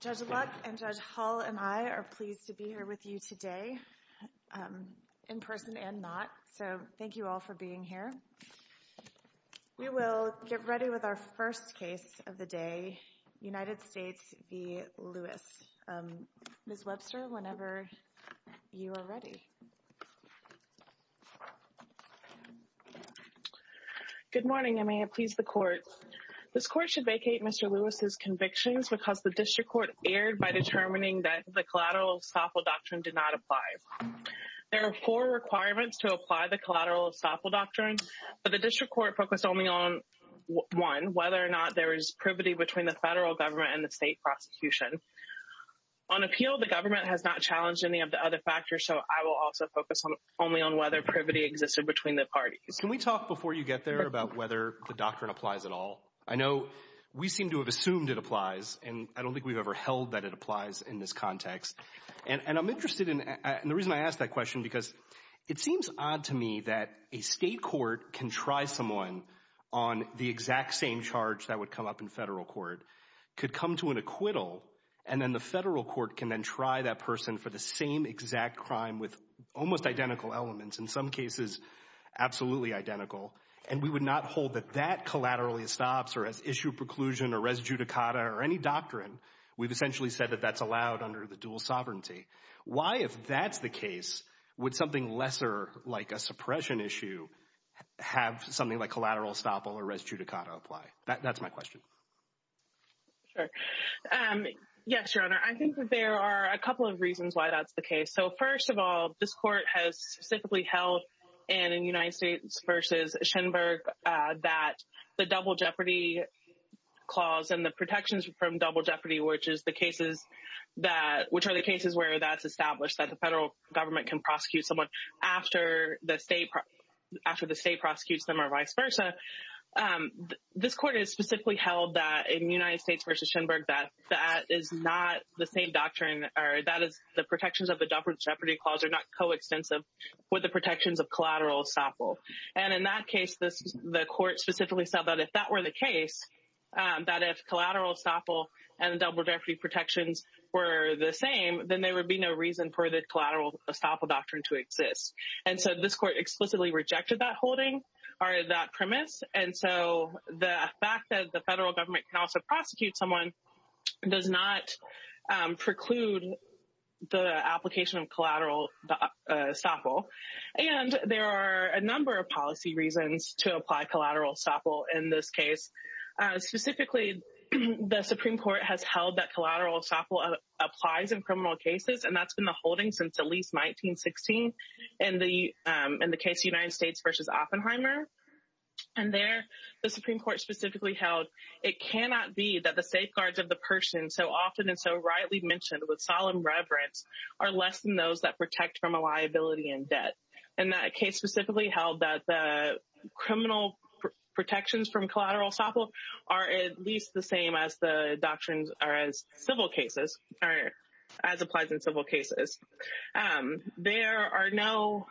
Judge Luck and Judge Hull and I are pleased to be here with you today, in person and not, so thank you all for being here. We will get ready with our first case of the day, United States v. Lewis. Ms. Webster, whenever you are ready. Good morning. I may have pleased the court. This court should vacate Mr. Lewis's convictions because the District Court erred by determining that the Collateral Estoppel Doctrine did not apply. There are four requirements to apply the Collateral Estoppel Doctrine, but the District Court focused only on one, whether or not there is privity between the federal government and the state prosecution. On appeal, the District Court will also focus only on whether privity existed between the parties. Can we talk before you get there about whether the doctrine applies at all? I know we seem to have assumed it applies, and I don't think we've ever held that it applies in this context, and I'm interested in, and the reason I ask that question because it seems odd to me that a state court can try someone on the exact same charge that would come up in federal court, could come to an acquittal, and then the federal court can then try that person for the same exact crime with almost identical elements, in some cases absolutely identical, and we would not hold that that collaterally estops or has issue preclusion or res judicata or any doctrine. We've essentially said that that's allowed under the dual sovereignty. Why if that's the case, would something lesser like a suppression issue have something like collateral estoppel or res judicata apply? That's my question. Sure. Yes, Your Honor, I think that there are a couple of reasons why that's the case. So first of all, this court has specifically held, and in United States versus Schenberg, that the double jeopardy clause and the protections from double jeopardy, which is the cases that, which are the cases where that's established that the federal government can prosecute someone after the state, after the state prosecutes them or vice versa. This court has specifically held that in United States versus Schenberg, that that is not the same doctrine or that is the protections of the double jeopardy clause are not coextensive with the protections of collateral estoppel. And in that case, the court specifically said that if that were the case, that if collateral estoppel and double jeopardy protections were the same, then there would be no reason for the collateral estoppel doctrine to exist. And so this court explicitly rejected that holding or that premise. And so the fact that the federal government can also prosecute someone does not preclude the application of collateral estoppel. And there are a number of policy reasons to apply collateral estoppel in this case. Specifically, the Supreme Court has held that collateral estoppel applies in criminal cases. And that's been the holding since at least 1916. And the in the case United States versus Oppenheimer. And there, the Supreme Court specifically held, it cannot be that the safeguards of the person so often and so rightly mentioned with solemn reverence are less than those that protect from a liability and debt. And that case specifically held that the criminal protections from collateral estoppel are at least the same as the doctrines are as civil cases, as applies in civil cases. There are no,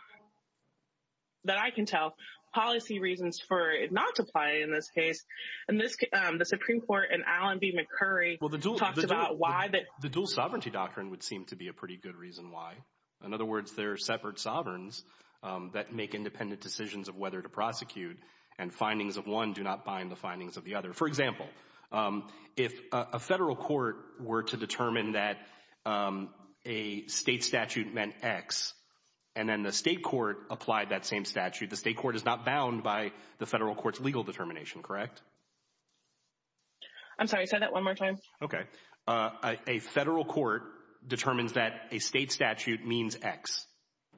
that I can tell, policy reasons for it not to apply in this case. And this, the Supreme Court and Alan B. McCurry talked about why the dual sovereignty doctrine would seem to be a pretty good reason why. In other words, there are separate sovereigns that make independent decisions of whether to prosecute and findings of one do not bind the findings of the other. For example, if a federal court were to determine that a state statute meant X and then the state court applied that same statute, the state court is not bound by the federal court's legal determination, correct? I'm sorry, say that one more time. Okay. A federal court determines that a state statute means X,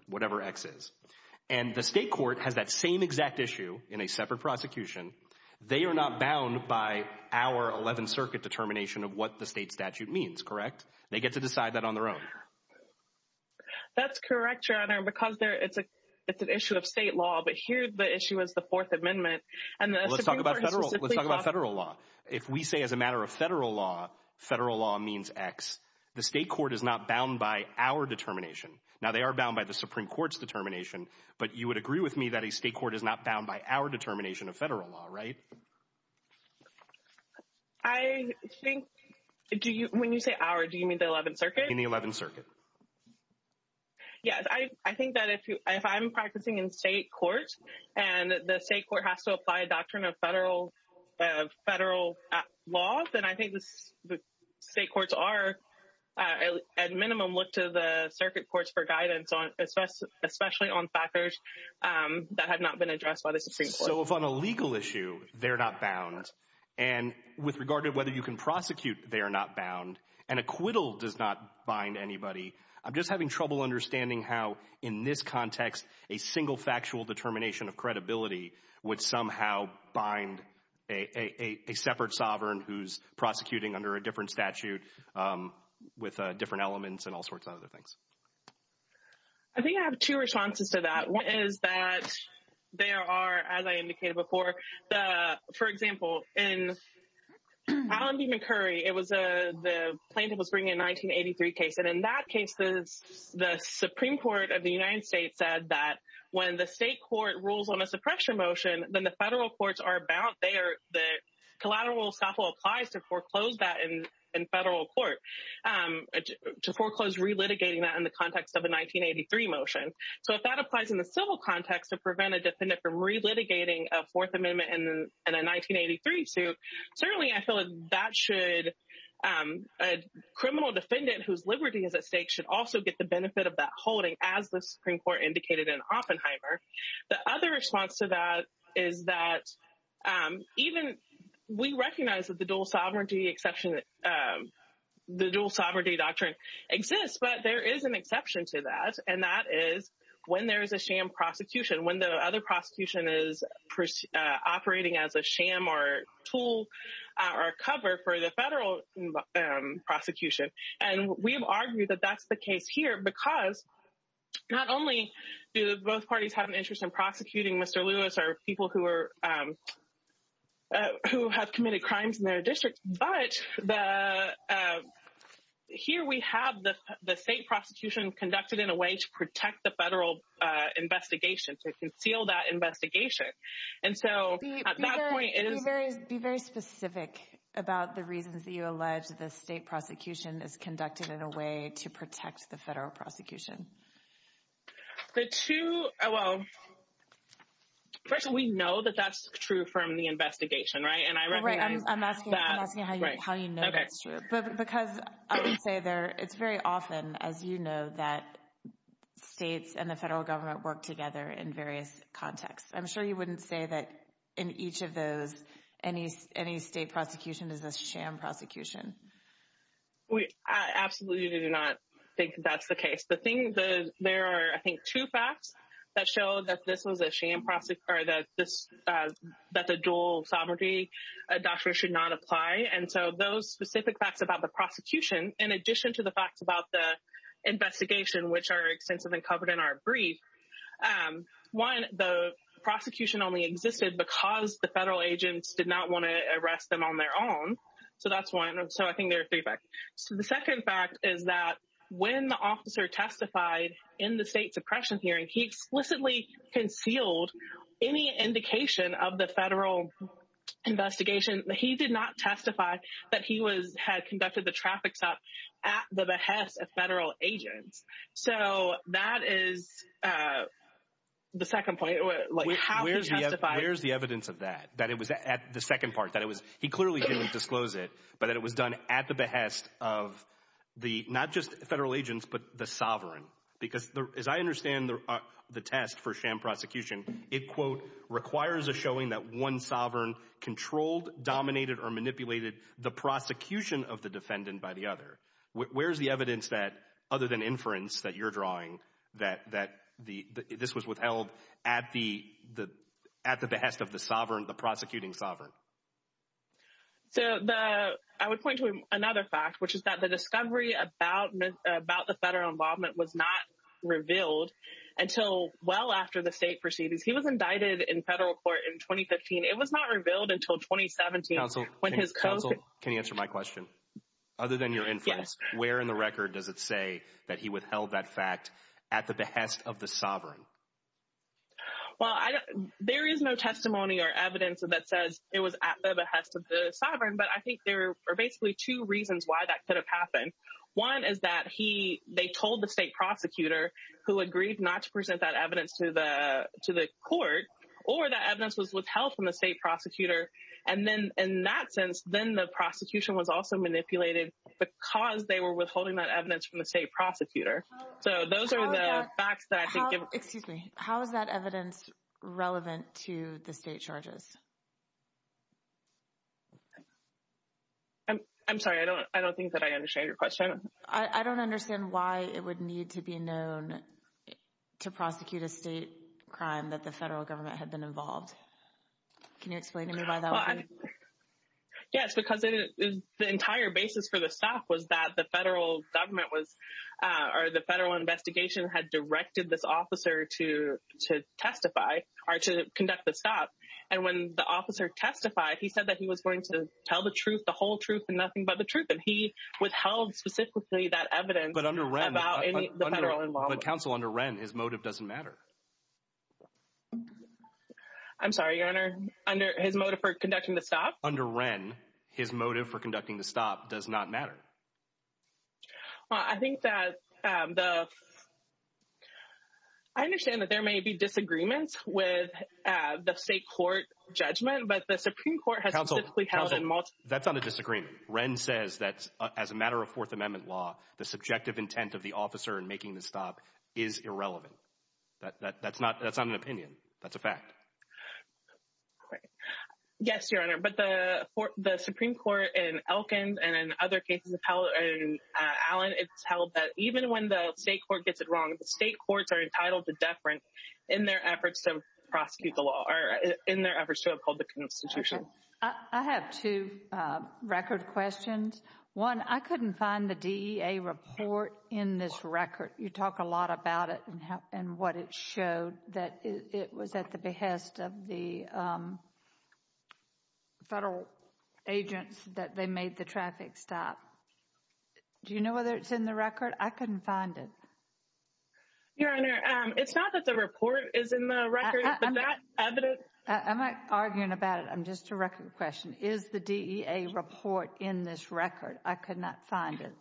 whatever X is. And the state court has that same exact issue in a separate prosecution. They are not bound by our 11th Circuit determination of what the state statute means, correct? They get to decide that on their own. That's correct, Your Honor, because it's an issue of state law, but here the issue is the Fourth Amendment. Let's talk about federal law. If we say as a matter of federal law, federal law means X. The state court is not bound by our determination. Now, they are bound by the Supreme Court's determination, but you would agree with me that a state court is not bound by our determination of federal law, right? I think when you say our, do you mean the 11th Circuit? In the 11th Circuit. Yes, I think that if I'm practicing in state court and the state court has to apply a doctrine of federal law, then I think the state courts are, at minimum, look to the circuit courts for guidance on, especially on factors that have not been addressed by the Supreme Court. So if on a legal issue, they're not bound, and with regard to whether you can prosecute, they are not bound, and acquittal does not bind anybody. I'm just having trouble understanding how, in this context, a single factual determination of credibility would somehow bind a separate sovereign who's prosecuting under a different statute with different elements and all sorts of other things. I think I have two responses to that. One is that there are, as I indicated before, the, for example, in Allen v. McCurry, it was a, the plaintiff was bringing a 1983 suit case, and in that case, the Supreme Court of the United States said that when the state court rules on a suppression motion, then the federal courts are bound. They are, the collateral will stop all applies to foreclose that in federal court, to foreclose relitigating that in the context of a 1983 motion. So if that applies in the civil context to prevent a defendant from relitigating a Fourth Amendment and a 1983 suit, certainly I feel that that should, a criminal defendant whose liberty is at stake should also get the benefit of that holding, as the Supreme Court indicated in Oppenheimer. The other response to that is that even, we recognize that the dual sovereignty exception, the dual sovereignty doctrine exists, but there is an exception to that, and that is when there is a sham prosecution, when the other prosecution is operating as a sham or tool or cover for the federal prosecution. And we have argued that that's the case here because not only do both parties have an interest in prosecuting Mr. Lewis or people who are, who have committed crimes in their district, but the, here we have the state prosecution conducted in a way to protect the federal investigation, to conceal that investigation. And so, at that point, it is... Be very specific about the reasons that you allege the state prosecution is conducted in a way to protect the federal prosecution. The two, well, first of all, we know that that's true from the investigation, right? And I recognize that... Right, I'm asking you how you know that's true. But because I would say there, it's very often, as you know, that states and the federal government work together in various contexts. I'm sure you wouldn't say that in each of those, any state prosecution is a sham prosecution. We absolutely do not think that's the case. The thing, there are, I think, two facts that show that this was a sham prosecutor, that the dual sovereignty doctrine should not apply. And so, those specific facts about the prosecution, in addition to the facts about the investigation, which are extensively covered in our brief, one, the prosecution only existed because the federal agents did not want to arrest them on their own. So, that's one. So, I think there are three facts. So, the second fact is that when the officer testified in the state suppression hearing, he explicitly concealed any indication of the federal investigation. He did not testify that he had conducted the traffic stop at the behest of federal agents. So, that is the second point. Where's the evidence of that? That it was at the second part, that it was, he clearly didn't disclose it, but that it was done at the behest of the, not just federal agents, but the sovereign. Because, as I understand the test for sham prosecution, it, quote, requires a showing that one sovereign controlled, dominated, or manipulated the prosecution of the defendant by the other. Where's the evidence that, other than inference that you're drawing, that this was withheld at the behest of the sovereign, the prosecuting sovereign? So, the, I would point to another fact, which is that the discovery about the federal involvement was not revealed until well after the state proceedings. He was indicted in federal court in 2015. It was not revealed until 2017, when his co- Counsel, counsel, can you answer my question? Other than your inference, where in the record does it say that he withheld that fact at the behest of the sovereign? Well, I don't, there is no testimony or evidence that says it was at the behest of the sovereign, but I think there are basically two reasons why that could have happened. One is that he, they told the state prosecutor, who agreed not to present that evidence to the, to the court, or that evidence was withheld from the state prosecutor. And then, in that sense, then the prosecution was also manipulated because they were withholding that evidence from the state prosecutor. So, those are the facts that I think give Excuse me, how is that evidence relevant to the state charges? I'm sorry, I don't, I don't think that I understand your question. I don't understand why it would need to be known to prosecute a state crime that the federal government had been involved. Can you explain to me why that would be? Yes, because the entire basis for the staff was that the federal government was, or the was going to tell the truth, the whole truth, and nothing but the truth, and he withheld specifically that evidence. But under Wren, but counsel under Wren, his motive doesn't matter. I'm sorry, your honor, under his motive for conducting the stop? Under Wren, his motive for conducting the stop does not matter. I think that the, I understand that there may be disagreements with the state court judgment, but the Supreme Court has held in multiple- That's not a disagreement. Wren says that as a matter of Fourth Amendment law, the subjective intent of the officer in making the stop is irrelevant. That's not, that's not an opinion. That's a fact. Yes, your honor, but the Supreme Court in Wilkins and in other cases, in Allen, it's held that even when the state court gets it wrong, the state courts are entitled to deference in their efforts to prosecute the law, or in their efforts to uphold the Constitution. I have two record questions. One, I couldn't find the DEA report in this record. You talk a lot about it and what it showed, that it made the traffic stop. Do you know whether it's in the record? I couldn't find it. Your honor, it's not that the report is in the record, but that evidence- I'm not arguing about it. I'm just a record question. Is the DEA report in this record? I could not find it.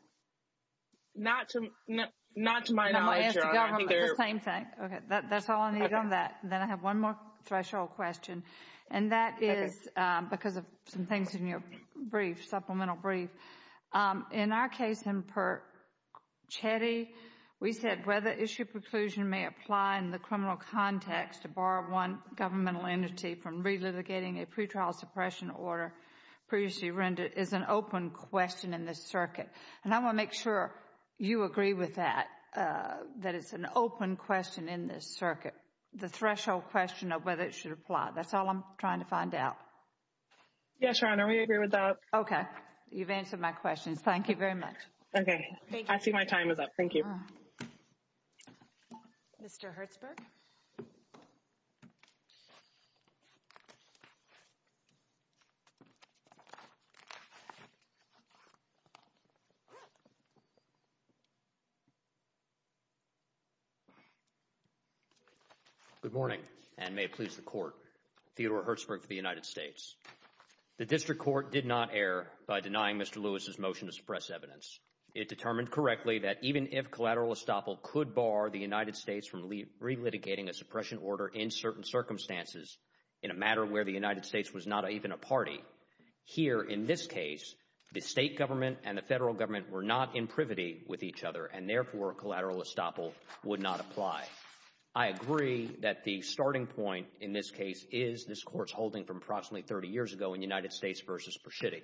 Not to, not to my knowledge, your honor, I think there- No, I'm going to ask the government the same thing. Okay, that's all I need on that. Then I have one more threshold question, and that is because of some things in your brief, supplement or brief. In our case in Perchetti, we said whether issue preclusion may apply in the criminal context to bar one governmental entity from relitigating a pretrial suppression order previously rendered is an open question in this circuit. And I want to make sure you agree with that, that it's an open question in this circuit, the threshold question of whether it should apply. That's all I'm trying to find out. Yes, your honor, we agree with that. Okay, you've answered my questions. Thank you very much. Okay, I see my time is up. Thank you. Mr. Hertzberg. Good morning, and may it please the court. Theodore Hertzberg for the United States. The district court did not err by denying Mr. Lewis's motion to suppress evidence. It determined correctly that even if collateral estoppel could bar the United States from relitigating a suppression order in certain circumstances in a matter where the United States was not even a party, here in this case, the state government and the federal government were not in privity with each other, and therefore collateral estoppel would not apply. I agree that the starting point in this case is this court's holding from approximately 30 years ago in United States v. Pershitty,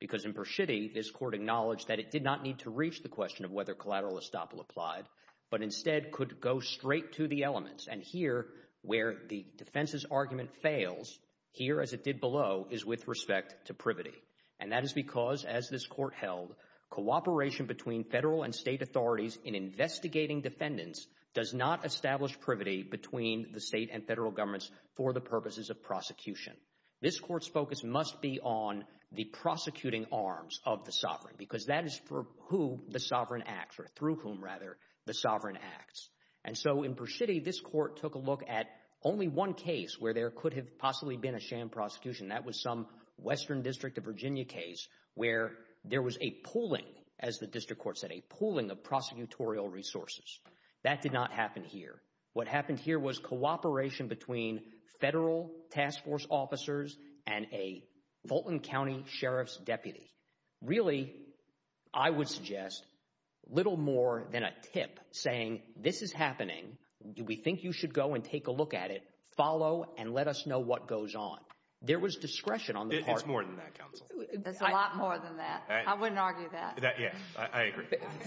because in Pershitty, this court acknowledged that it did not need to reach the question of whether collateral estoppel applied, but instead could go straight to the elements. And here, where the defense's argument fails, here as it did below, is with respect to privity. And that is because, as this court held, cooperation between federal and state authorities in investigating defendants does not establish privity between the state and federal governments for the purposes of prosecution. This court's focus must be on the prosecuting arms of the sovereign, because that is for who the sovereign acts, or through whom, rather, the sovereign acts. And so in Pershitty, this court took a look at only one case where there could have possibly been a sham prosecution. That was some Western District of Virginia case where there was a pooling, as the district court said, a pooling of prosecutorial resources. That did not happen here. What happened here was cooperation between federal task force officers and a Fulton County Sheriff's deputy. Really, I would suggest, little more than a tip saying, this is happening, do we think you should go and take a look at it, follow and let us know what goes on. There was discretion on the part of the court. It's more than that, counsel. It's a lot more than that. I wouldn't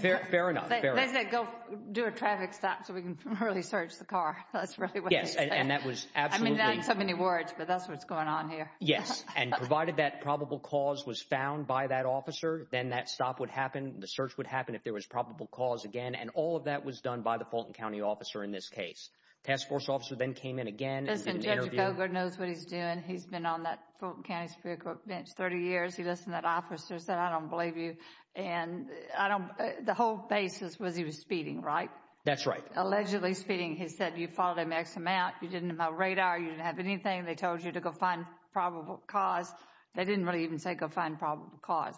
Fair enough, fair enough. They said, go do a traffic stop so we can early search the car. That's really what they said. Yes, and that was absolutely I mean, not in so many words, but that's what's going on here. Yes, and provided that probable cause was found by that officer, then that stop would happen, the search would happen if there was probable cause again, and all of that was done by the Fulton County officer in this case. Task force officer then came in again and did an interview Listen, Judge Cogar knows what he's doing. He's been on that Fulton County Superior Court bench 30 years. He listened to that officer and said, I don't believe you. And I don't, the whole basis was he was speeding, right? That's right. Allegedly speeding. He said, you followed him X amount. You didn't have radar. You didn't have anything. They told you to go find probable cause. They didn't really even say go find probable cause.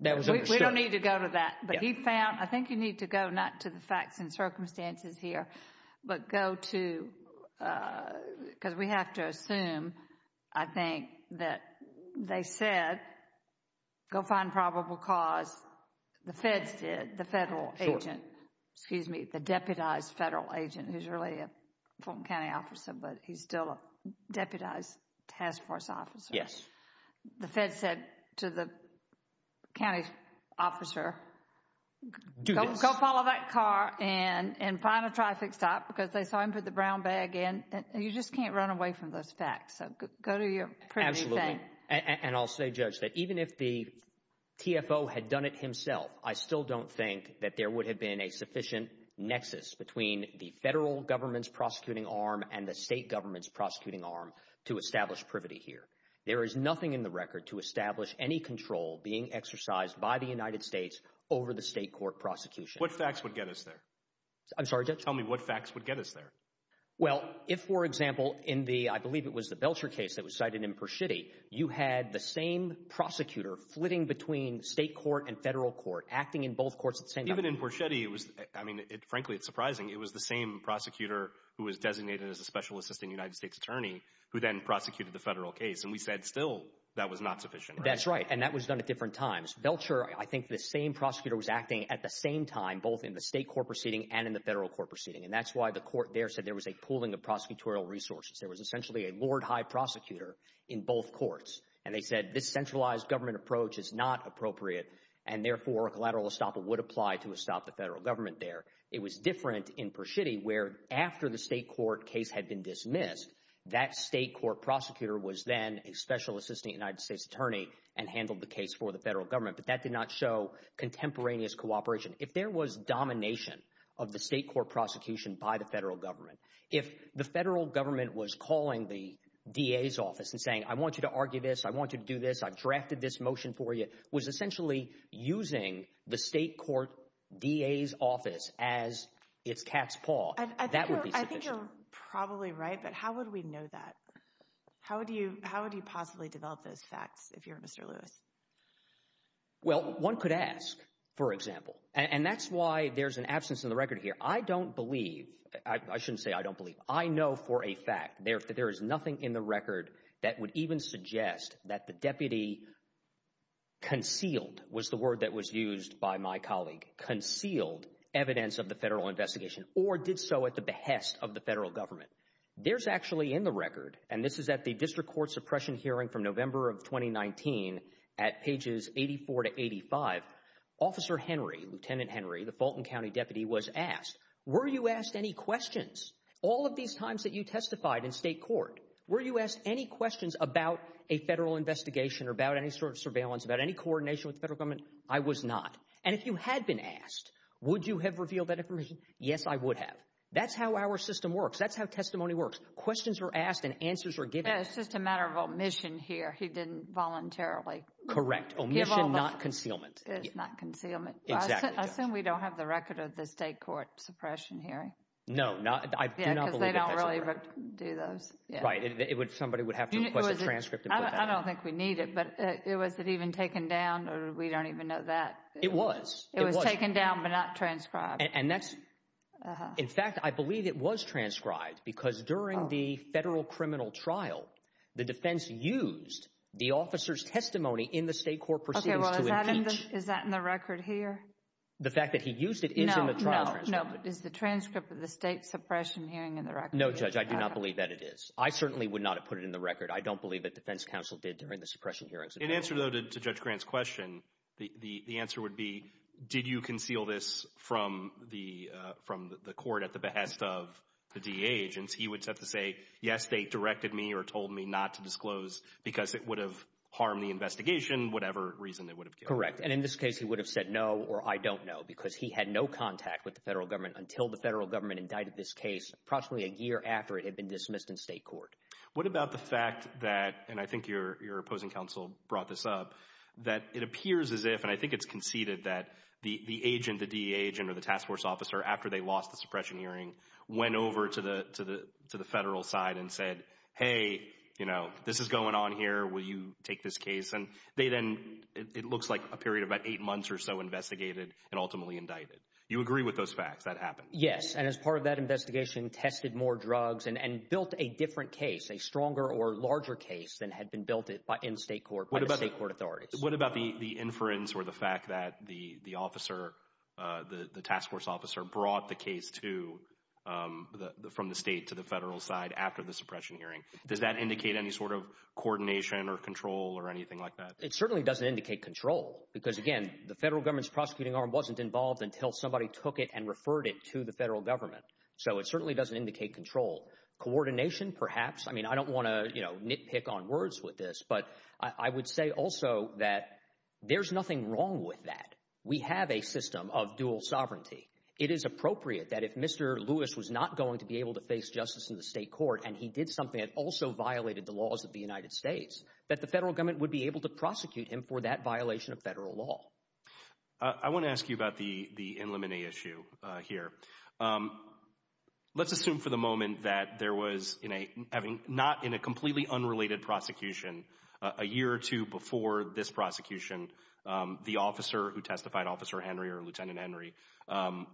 That was understood. We don't need to go to that. But he found, I think you need to go not to the facts and circumstances here, but go to, because we have to assume, I think that they said, go find probable cause. The feds did, the federal agent, excuse me, the deputized federal agent who's really a Fulton County officer, but he's still a deputized task force officer. The feds said to the county officer, go follow that car and find a traffic stop because they saw him put the brown bag in. You just can't run away from those facts. So go to your pre-meeting. And I'll say, Judge, that even if the TFO had done it himself, I still don't think that there would have been a sufficient nexus between the federal government's prosecuting arm and the state government's prosecuting arm to establish privity here. There is nothing in the record to establish any control being exercised by the United States over the state court prosecution. What facts would get us there? I'm sorry, Judge? Tell me what facts would get us there? Well, if, for example, in the, I believe it was the Belcher case that was cited in Porchetti, you had the same prosecutor flitting between state court and federal court, acting in both courts at the same time. Even in Porchetti, it was, I mean, frankly, it's surprising. It was the same prosecutor who was designated as a special assistant United States attorney who then prosecuted the federal case. And we said, still, that was not sufficient. That's right. And that was done at different times. Belcher, I think the same prosecutor was acting at the same time, both in the state court proceeding and in the federal court proceeding. And that's why the court there said there was a pooling of prosecutorial resources. There was essentially a Lord High Prosecutor in both courts. And they said this centralized government approach is not appropriate, and therefore a collateral estoppel would apply to estop the federal government there. It was different in Porchetti, where after the state court case had been dismissed, that state court prosecutor was then a special assistant United States attorney and handled the case for the federal government. But that did not show contemporaneous cooperation. If there was domination of the state court prosecution by the federal government, if the federal government was calling the DA's office and saying, I want you to argue this, I want you to do this, I've drafted this motion for you, was essentially using the state court DA's office as its cat's paw, that would be sufficient. I think you're probably right, but how would we know that? How would you possibly develop those facts if you're Mr. Lewis? Well, one could ask, for example. And that's why there's an absence in the record here. I don't believe, I shouldn't say I don't believe, I know for a fact that there is nothing in the record that would even suggest that the deputy concealed, was the word that was used by my colleague, concealed evidence of the federal investigation, or did so at the behest of the federal government. There's actually in the record, and this is at the district court suppression hearing from November of 2019, at pages 84 to 85, Officer Henry, Lieutenant Henry, the Fulton County deputy was asked, were you asked any questions? All of these times that you testified in state court, were you asked any questions about a federal investigation or about any sort of surveillance, about any coordination with the federal government? I was not. And if you had been asked, would you have revealed that information? Yes, I would have. That's how our system works. That's how testimony works. Questions are asked and answers are given. It's just a matter of omission here. He didn't voluntarily. Correct. Omission, not concealment. It's not concealment. Exactly. I assume we don't have the record of the state court suppression hearing. No, not, I do not believe that. Yeah, because they don't really do those. Right. It would, somebody would have to request a transcript. I don't think we need it, but it, was it even taken down or we don't even know that. It was. It was taken down, but not transcribed. And that's, in fact, I believe it was transcribed because during the federal criminal trial the defense used the officer's testimony in the state court proceedings to impeach. Okay, well, is that in the record here? The fact that he used it is in the trial transcript. No, no, no. Is the transcript of the state suppression hearing in the record? No, Judge, I do not believe that it is. I certainly would not have put it in the record. I don't believe that defense counsel did during the suppression hearings. In answer, though, to Judge Grant's question, the answer would be, did you conceal this from the court at the behest of the DA agents? He would have to say, yes, they directed me or told me not to disclose because it would have harmed the investigation, whatever reason it would have given. Correct. And in this case, he would have said no or I don't know because he had no contact with the federal government until the federal government indicted this case approximately a year after it had been dismissed in state court. What about the fact that, and I think your opposing counsel brought this up, that it appears as if, and I think it's conceded that the agent, the DA agent or the task force officer, after they lost the suppression hearing, went over to the to the to the federal side and said, hey, you know, this is going on here. Will you take this case? And they then it looks like a period of about eight months or so investigated and ultimately indicted. You agree with those facts that happened? Yes. And as part of that investigation, tested more drugs and built a different case, a stronger or larger case than had been built in state court by the state court authorities. What about the inference or the fact that the officer, the task force officer brought the case to the from the state to the federal side after the suppression hearing? Does that indicate any sort of coordination or control or anything like that? It certainly doesn't indicate control because, again, the federal government's prosecuting arm wasn't involved until somebody took it and referred it to the federal government. So it certainly doesn't indicate control coordination, perhaps. I mean, I don't want to nitpick on words with this, but I would say also that there's nothing wrong with that. We have a system of dual sovereignty. It is appropriate that if Mr. Lewis was not going to be able to face justice in the state court and he did something that also violated the laws of the United States, that the federal government would be able to prosecute him for that violation of federal law. I want to ask you about the the in limine issue here. Let's assume for the moment that there was in a having not in a completely unrelated prosecution a year or two before this prosecution, the officer who testified, Officer Henry or Lieutenant Henry,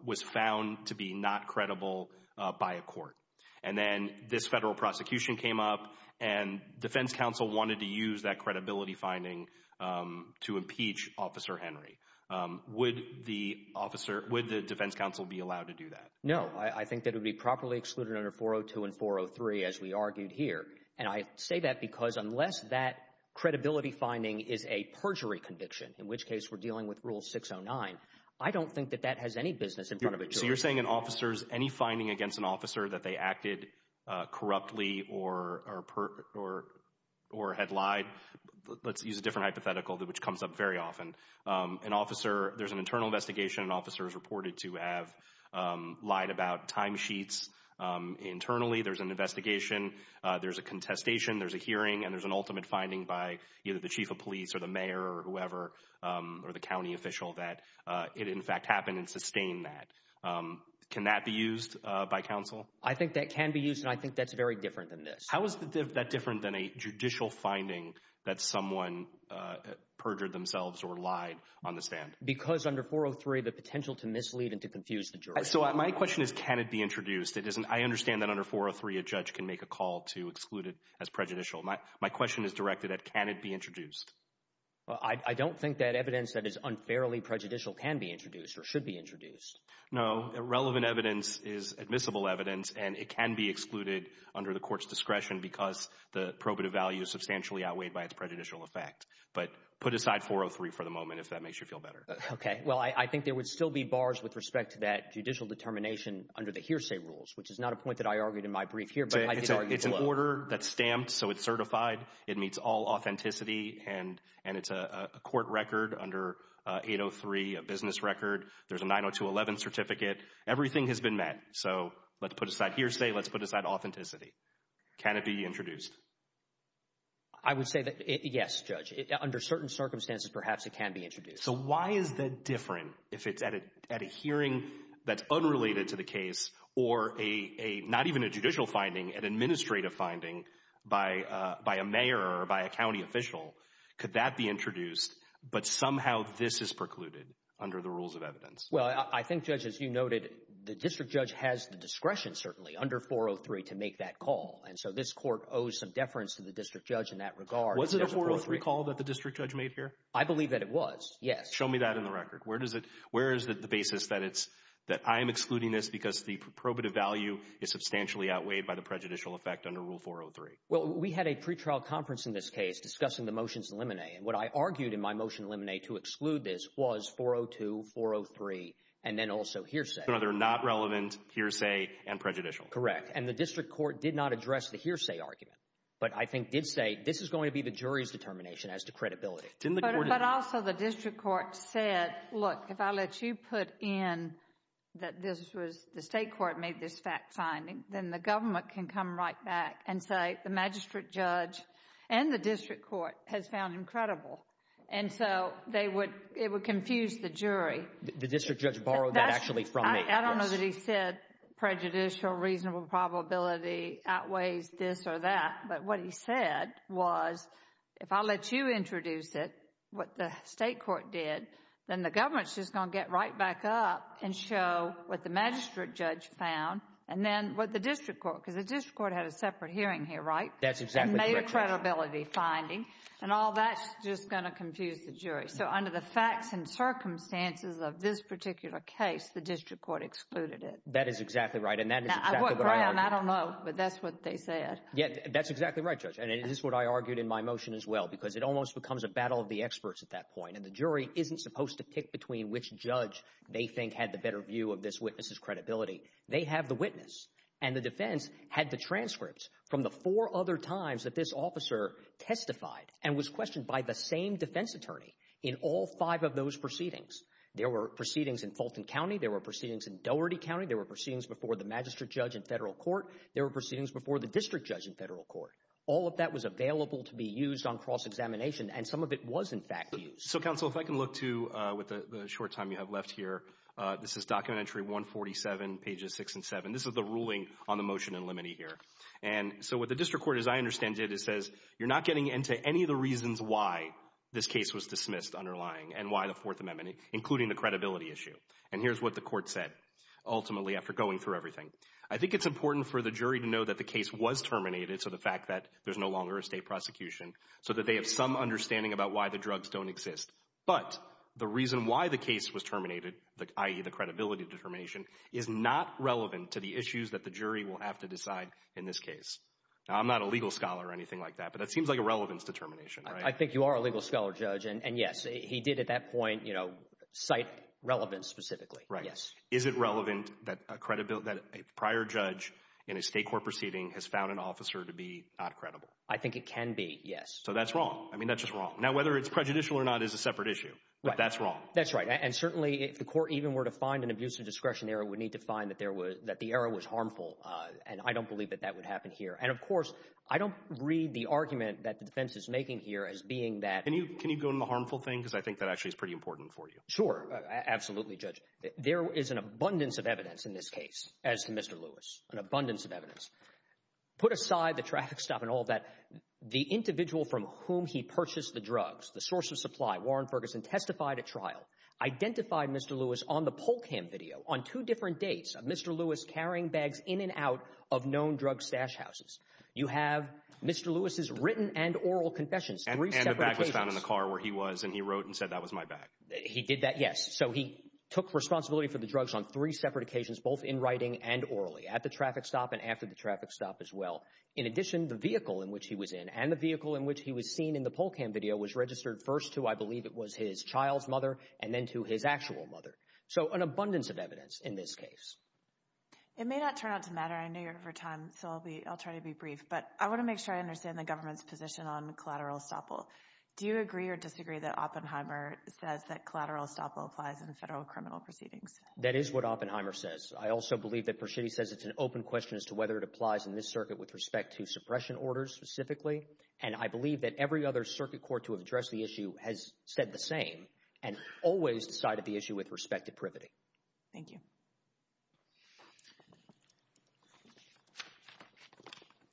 was found to be not credible by a court. And then this federal prosecution came up and defense counsel wanted to use that credibility finding to impeach Officer Henry. Would the officer, would the defense counsel be allowed to do that? No, I think that would be properly excluded under 402 and 403 as we argued here. And I say that because unless that credibility finding is a perjury conviction, in which case we're dealing with Rule 609, I don't think that that has any business in front of a jury. So you're saying an officer's, any finding against an officer that they acted corruptly or had lied, let's use a different hypothetical, which comes up very often. An officer, there's an internal investigation, an officer is reported to have lied about timesheets internally. There's an investigation, there's a contestation, there's a hearing, and there's an ultimate finding by either the chief of police or the mayor or whoever, or the county official, that it in fact happened and sustained that. Can that be used by counsel? I think that can be used, and I think that's very different than this. How is that different than a judicial finding that someone perjured themselves or lied on the stand? Because under 403, the potential to mislead and to confuse the jury. So my question is, can it be introduced? I understand that under 403, a judge can make a call to exclude it as prejudicial. My question is directed at, can it be introduced? I don't think that evidence that is unfairly prejudicial can be introduced or should be introduced. No, irrelevant evidence is admissible evidence, and it can be excluded under the court's discretion because the probative value is substantially outweighed by its prejudicial effect. But put aside 403 for the moment if that makes you feel better. Okay, well I think there would still be bars with respect to that judicial determination under the hearsay rules, which is not a point that I argued in my brief here, but I did argue below. It's an order that's stamped, so it's certified. It meets all authenticity, and it's a court record under 803, a business record. There's a 902.11 certificate. Everything has been met, so let's put aside hearsay, let's put aside authenticity. Can it be introduced? I would say that yes, Judge. Under certain circumstances, perhaps it can be introduced. So why is that different if it's at a hearing that's unrelated to the case or not even a judicial finding, an administrative finding by a mayor or by a county official? Could that be introduced, but somehow this is precluded under the rules of evidence? Well, I think, Judge, as you noted, the district judge has the discretion certainly under 403 to make that call, and so this court owes some deference to the district judge in that regard. Was it a 403 call that the district judge made here? I believe that it was, yes. Show me that in the record. Where is the basis that I'm excluding this because the probative value is substantially outweighed by the prejudicial effect under Rule 403? Well, we had a pretrial conference in this case discussing the motions in limine, and what I argued in my motion in limine to exclude this was 402, 403, and then also hearsay. So they're not relevant, hearsay, and prejudicial. Correct. And the district court did not address the hearsay argument, but I think did say this is going to be the jury's determination as to credibility. But also the district court said, look, if I let you put in that this was the state court made this fact finding, then the government can come right back and say the magistrate judge and the district court has found incredible. And so they would, it would confuse the jury. The district judge borrowed that actually from me. I don't know that he said prejudicial, reasonable probability outweighs this or that, but what he said was if I let you introduce it, what the state court did, then the government's going to get right back up and show what the magistrate judge found, and then what the district court, because the district court had a separate hearing here, right? That's exactly correct. And made a credibility finding, and all that's just going to confuse the jury. So under the facts and circumstances of this particular case, the district court excluded it. That is exactly right. And that is exactly what I argued. Now, what ground? I don't know, but that's what they said. Yeah, that's exactly right, Judge. And it is what I argued in my motion as well, because it almost becomes a battle of the which judge they think had the better view of this witness's credibility. They have the witness, and the defense had the transcripts from the four other times that this officer testified and was questioned by the same defense attorney in all five of those proceedings. There were proceedings in Fulton County, there were proceedings in Doherty County, there were proceedings before the magistrate judge in federal court, there were proceedings before the district judge in federal court. All of that was available to be used on cross-examination, and some of it was, in fact, used. So, counsel, if I can look to, with the short time you have left here, this is Document Entry 147, pages 6 and 7. This is the ruling on the motion in limine here. And so what the district court, as I understand it, it says you're not getting into any of the reasons why this case was dismissed underlying, and why the Fourth Amendment, including the credibility issue. And here's what the court said, ultimately, after going through everything. I think it's important for the jury to know that the case was terminated, so the fact that there's no longer a state prosecution, so that they have some understanding about why the drugs don't exist, but the reason why the case was terminated, i.e., the credibility determination, is not relevant to the issues that the jury will have to decide in this case. Now, I'm not a legal scholar or anything like that, but it seems like a relevance determination, right? I think you are a legal scholar, Judge, and yes, he did at that point, you know, cite relevance specifically. Right. Yes. Is it relevant that a prior judge in a state court proceeding has found an officer to be not credible? I think it can be, yes. So that's wrong. I mean, that's just wrong. Now, whether it's prejudicial or not is a separate issue, but that's wrong. That's right. And certainly, if the court even were to find an abusive discretion error, it would need to find that there was, that the error was harmful, and I don't believe that that would happen here. And of course, I don't read the argument that the defense is making here as being that... Can you go into the harmful thing, because I think that actually is pretty important for you. Sure. Absolutely, Judge. There is an abundance of evidence in this case, as to Mr. Lewis, an abundance of evidence. Put aside the traffic stop and all that, the individual from whom he purchased the drugs, the source of supply, Warren Ferguson, testified at trial, identified Mr. Lewis on the poll cam video, on two different dates, of Mr. Lewis carrying bags in and out of known drug stash houses. You have Mr. Lewis's written and oral confessions, three separate occasions. And the bag was found in the car where he was, and he wrote and said, that was my bag. He did that, yes. In addition, the vehicle in which he was in, and the vehicle in which he was seen in the poll cam video, was registered first to, I believe it was his child's mother, and then to his actual mother. So an abundance of evidence in this case. It may not turn out to matter, I know you're out of time, so I'll try to be brief, but I want to make sure I understand the government's position on collateral estoppel. Do you agree or disagree that Oppenheimer says that collateral estoppel applies in federal criminal proceedings? That is what Oppenheimer says. I also believe that Pershidi says it's an open question as to whether it applies in this circuit with respect to suppression orders specifically. And I believe that every other circuit court to have addressed the issue has said the same, and always decided the issue with respect to privity. Thank you.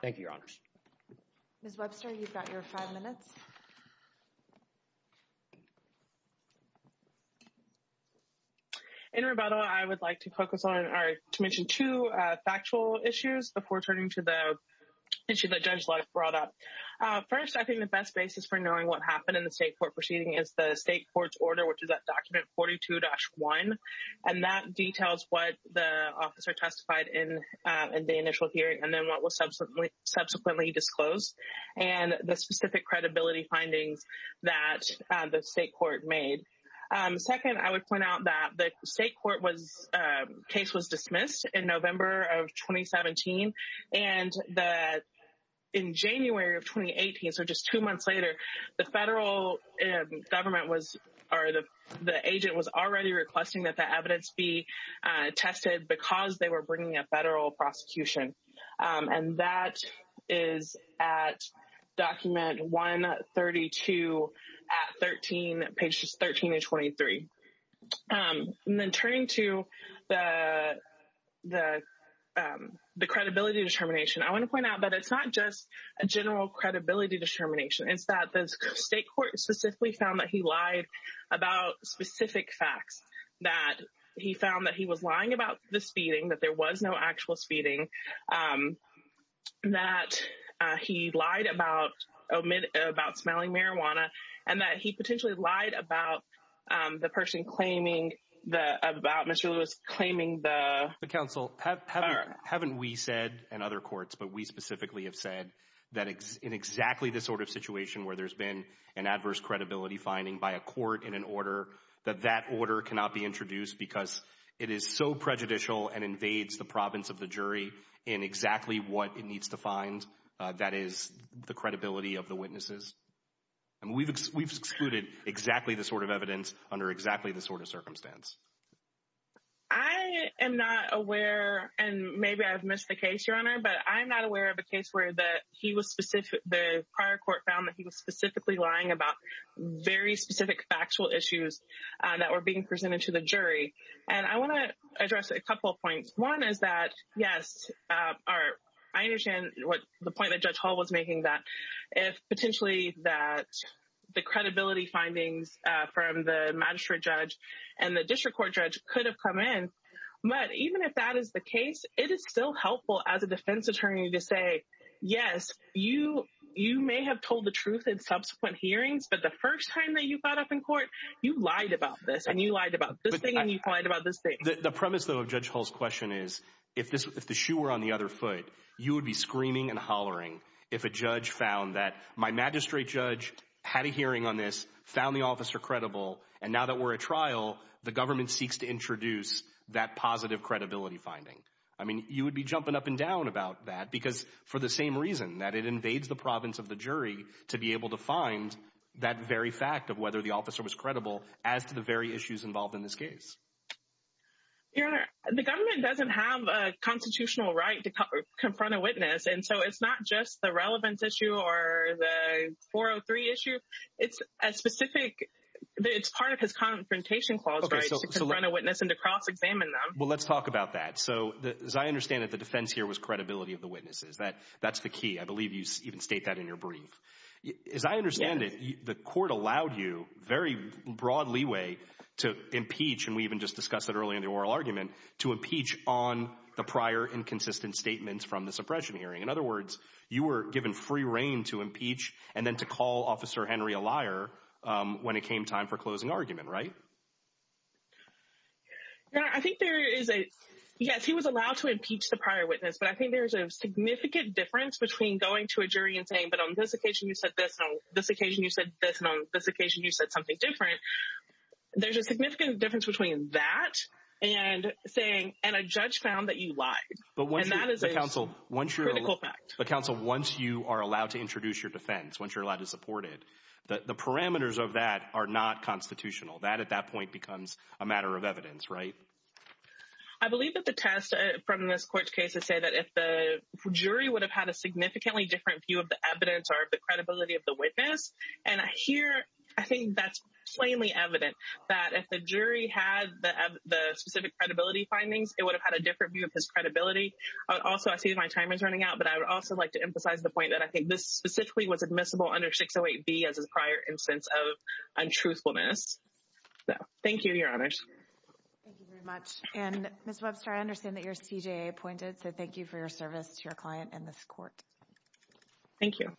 Thank you, Your Honors. Ms. Webster, you've got your five minutes. In rebuttal, I would like to focus on or to mention two factual issues before turning to the issue that Judge Leib brought up. First, I think the best basis for knowing what happened in the state court proceeding is the state court's order, which is at document 42-1. And that details what the officer testified in the initial hearing, and then what was subsequently disclosed. And the specific credibility findings that the state court made. Second, I would point out that the state court was case was dismissed in November of 2017. And that in January of 2018, so just two months later, the federal government was or the agent was already requesting that the evidence be tested because they were bringing a federal prosecution. And that is at document 132 at 13, pages 13 to 23. And then turning to the credibility determination, I want to point out that it's not just a general credibility determination. It's that the state court specifically found that he lied about specific facts, that he found that he was lying about the speeding, that there was no actual speeding, that he lied about smelling marijuana, and that he potentially lied about the person claiming the, about Mr. Lewis, claiming the... The counsel. Haven't we said, and other courts, but we specifically have said that in exactly this sort of situation where there's been an adverse credibility finding by a court in an order that that order cannot be introduced because it is so prejudicial and invades the province of the jury in exactly what it needs to find. That is the credibility of the witnesses. And we've excluded exactly the sort of evidence under exactly the sort of circumstance. I am not aware, and maybe I've missed the case, Your Honor, but I'm not aware of a case where that he was specific, the prior court found that he was specifically lying about very specific factual issues that were being presented to the jury. And I want to address a couple of points. One is that, yes, I understand what the point that Judge Hall was making that if potentially that the credibility findings from the magistrate judge and the district court judge could have come in. But even if that is the case, it is still helpful as a defense attorney to say, yes, you may have told the truth in subsequent hearings, but the first time that you got up in court, you lied about this and you lied about this thing and you lied about this thing. The premise, though, of Judge Hall's question is if this if the shoe were on the other foot, you would be screaming and hollering if a judge found that my magistrate judge had a hearing on this, found the officer credible. And now that we're a trial, the government seeks to introduce that positive credibility finding. I mean, you would be jumping up and down about that because for the same reason that it invades the province of the jury to be able to find that very fact of whether the officer was credible as to the very issues involved in this case. The government doesn't have a constitutional right to confront a witness. And so it's not just the relevance issue or the 403 issue. It's a specific it's part of his confrontation clause to run a witness and to cross examine them. Well, let's talk about that. So as I understand it, the defense here was credibility of the witnesses. That's the key. I believe you even state that in your brief. As I understand it, the court allowed you very broad leeway to impeach. And we even just discussed it earlier in the oral argument to impeach on the prior inconsistent statements from the suppression hearing. In other words, you were given free reign to impeach and then to call Officer Henry a liar when it came time for closing argument. Right. I think there is a yes, he was allowed to impeach the prior witness, but I think there's a significant difference between going to a jury and saying, but on this occasion, you said this on this occasion, you said this on this occasion, you said something different. There's a significant difference between that and saying and a judge found that you lied. But when that is a counsel, once you're in effect, the counsel, once you are allowed to introduce your defense, once you're allowed to support it, the parameters of that are not constitutional. That at that point becomes a matter of evidence, right? I believe that the test from this court's case is say that if the jury would have had a significantly different view of the evidence or the credibility of the witness. And here, I think that's plainly evident that if the jury had the specific credibility findings, it would have had a different view of his credibility. Also, I see my time is running out, but I would also like to emphasize the point that I think this specifically was admissible under 608B as a prior instance of untruthfulness. Thank you, Your Honors. Thank you very much. And Ms. Webster, I understand that you're CJA appointed, so thank you for your service to your client and this court. Thank you.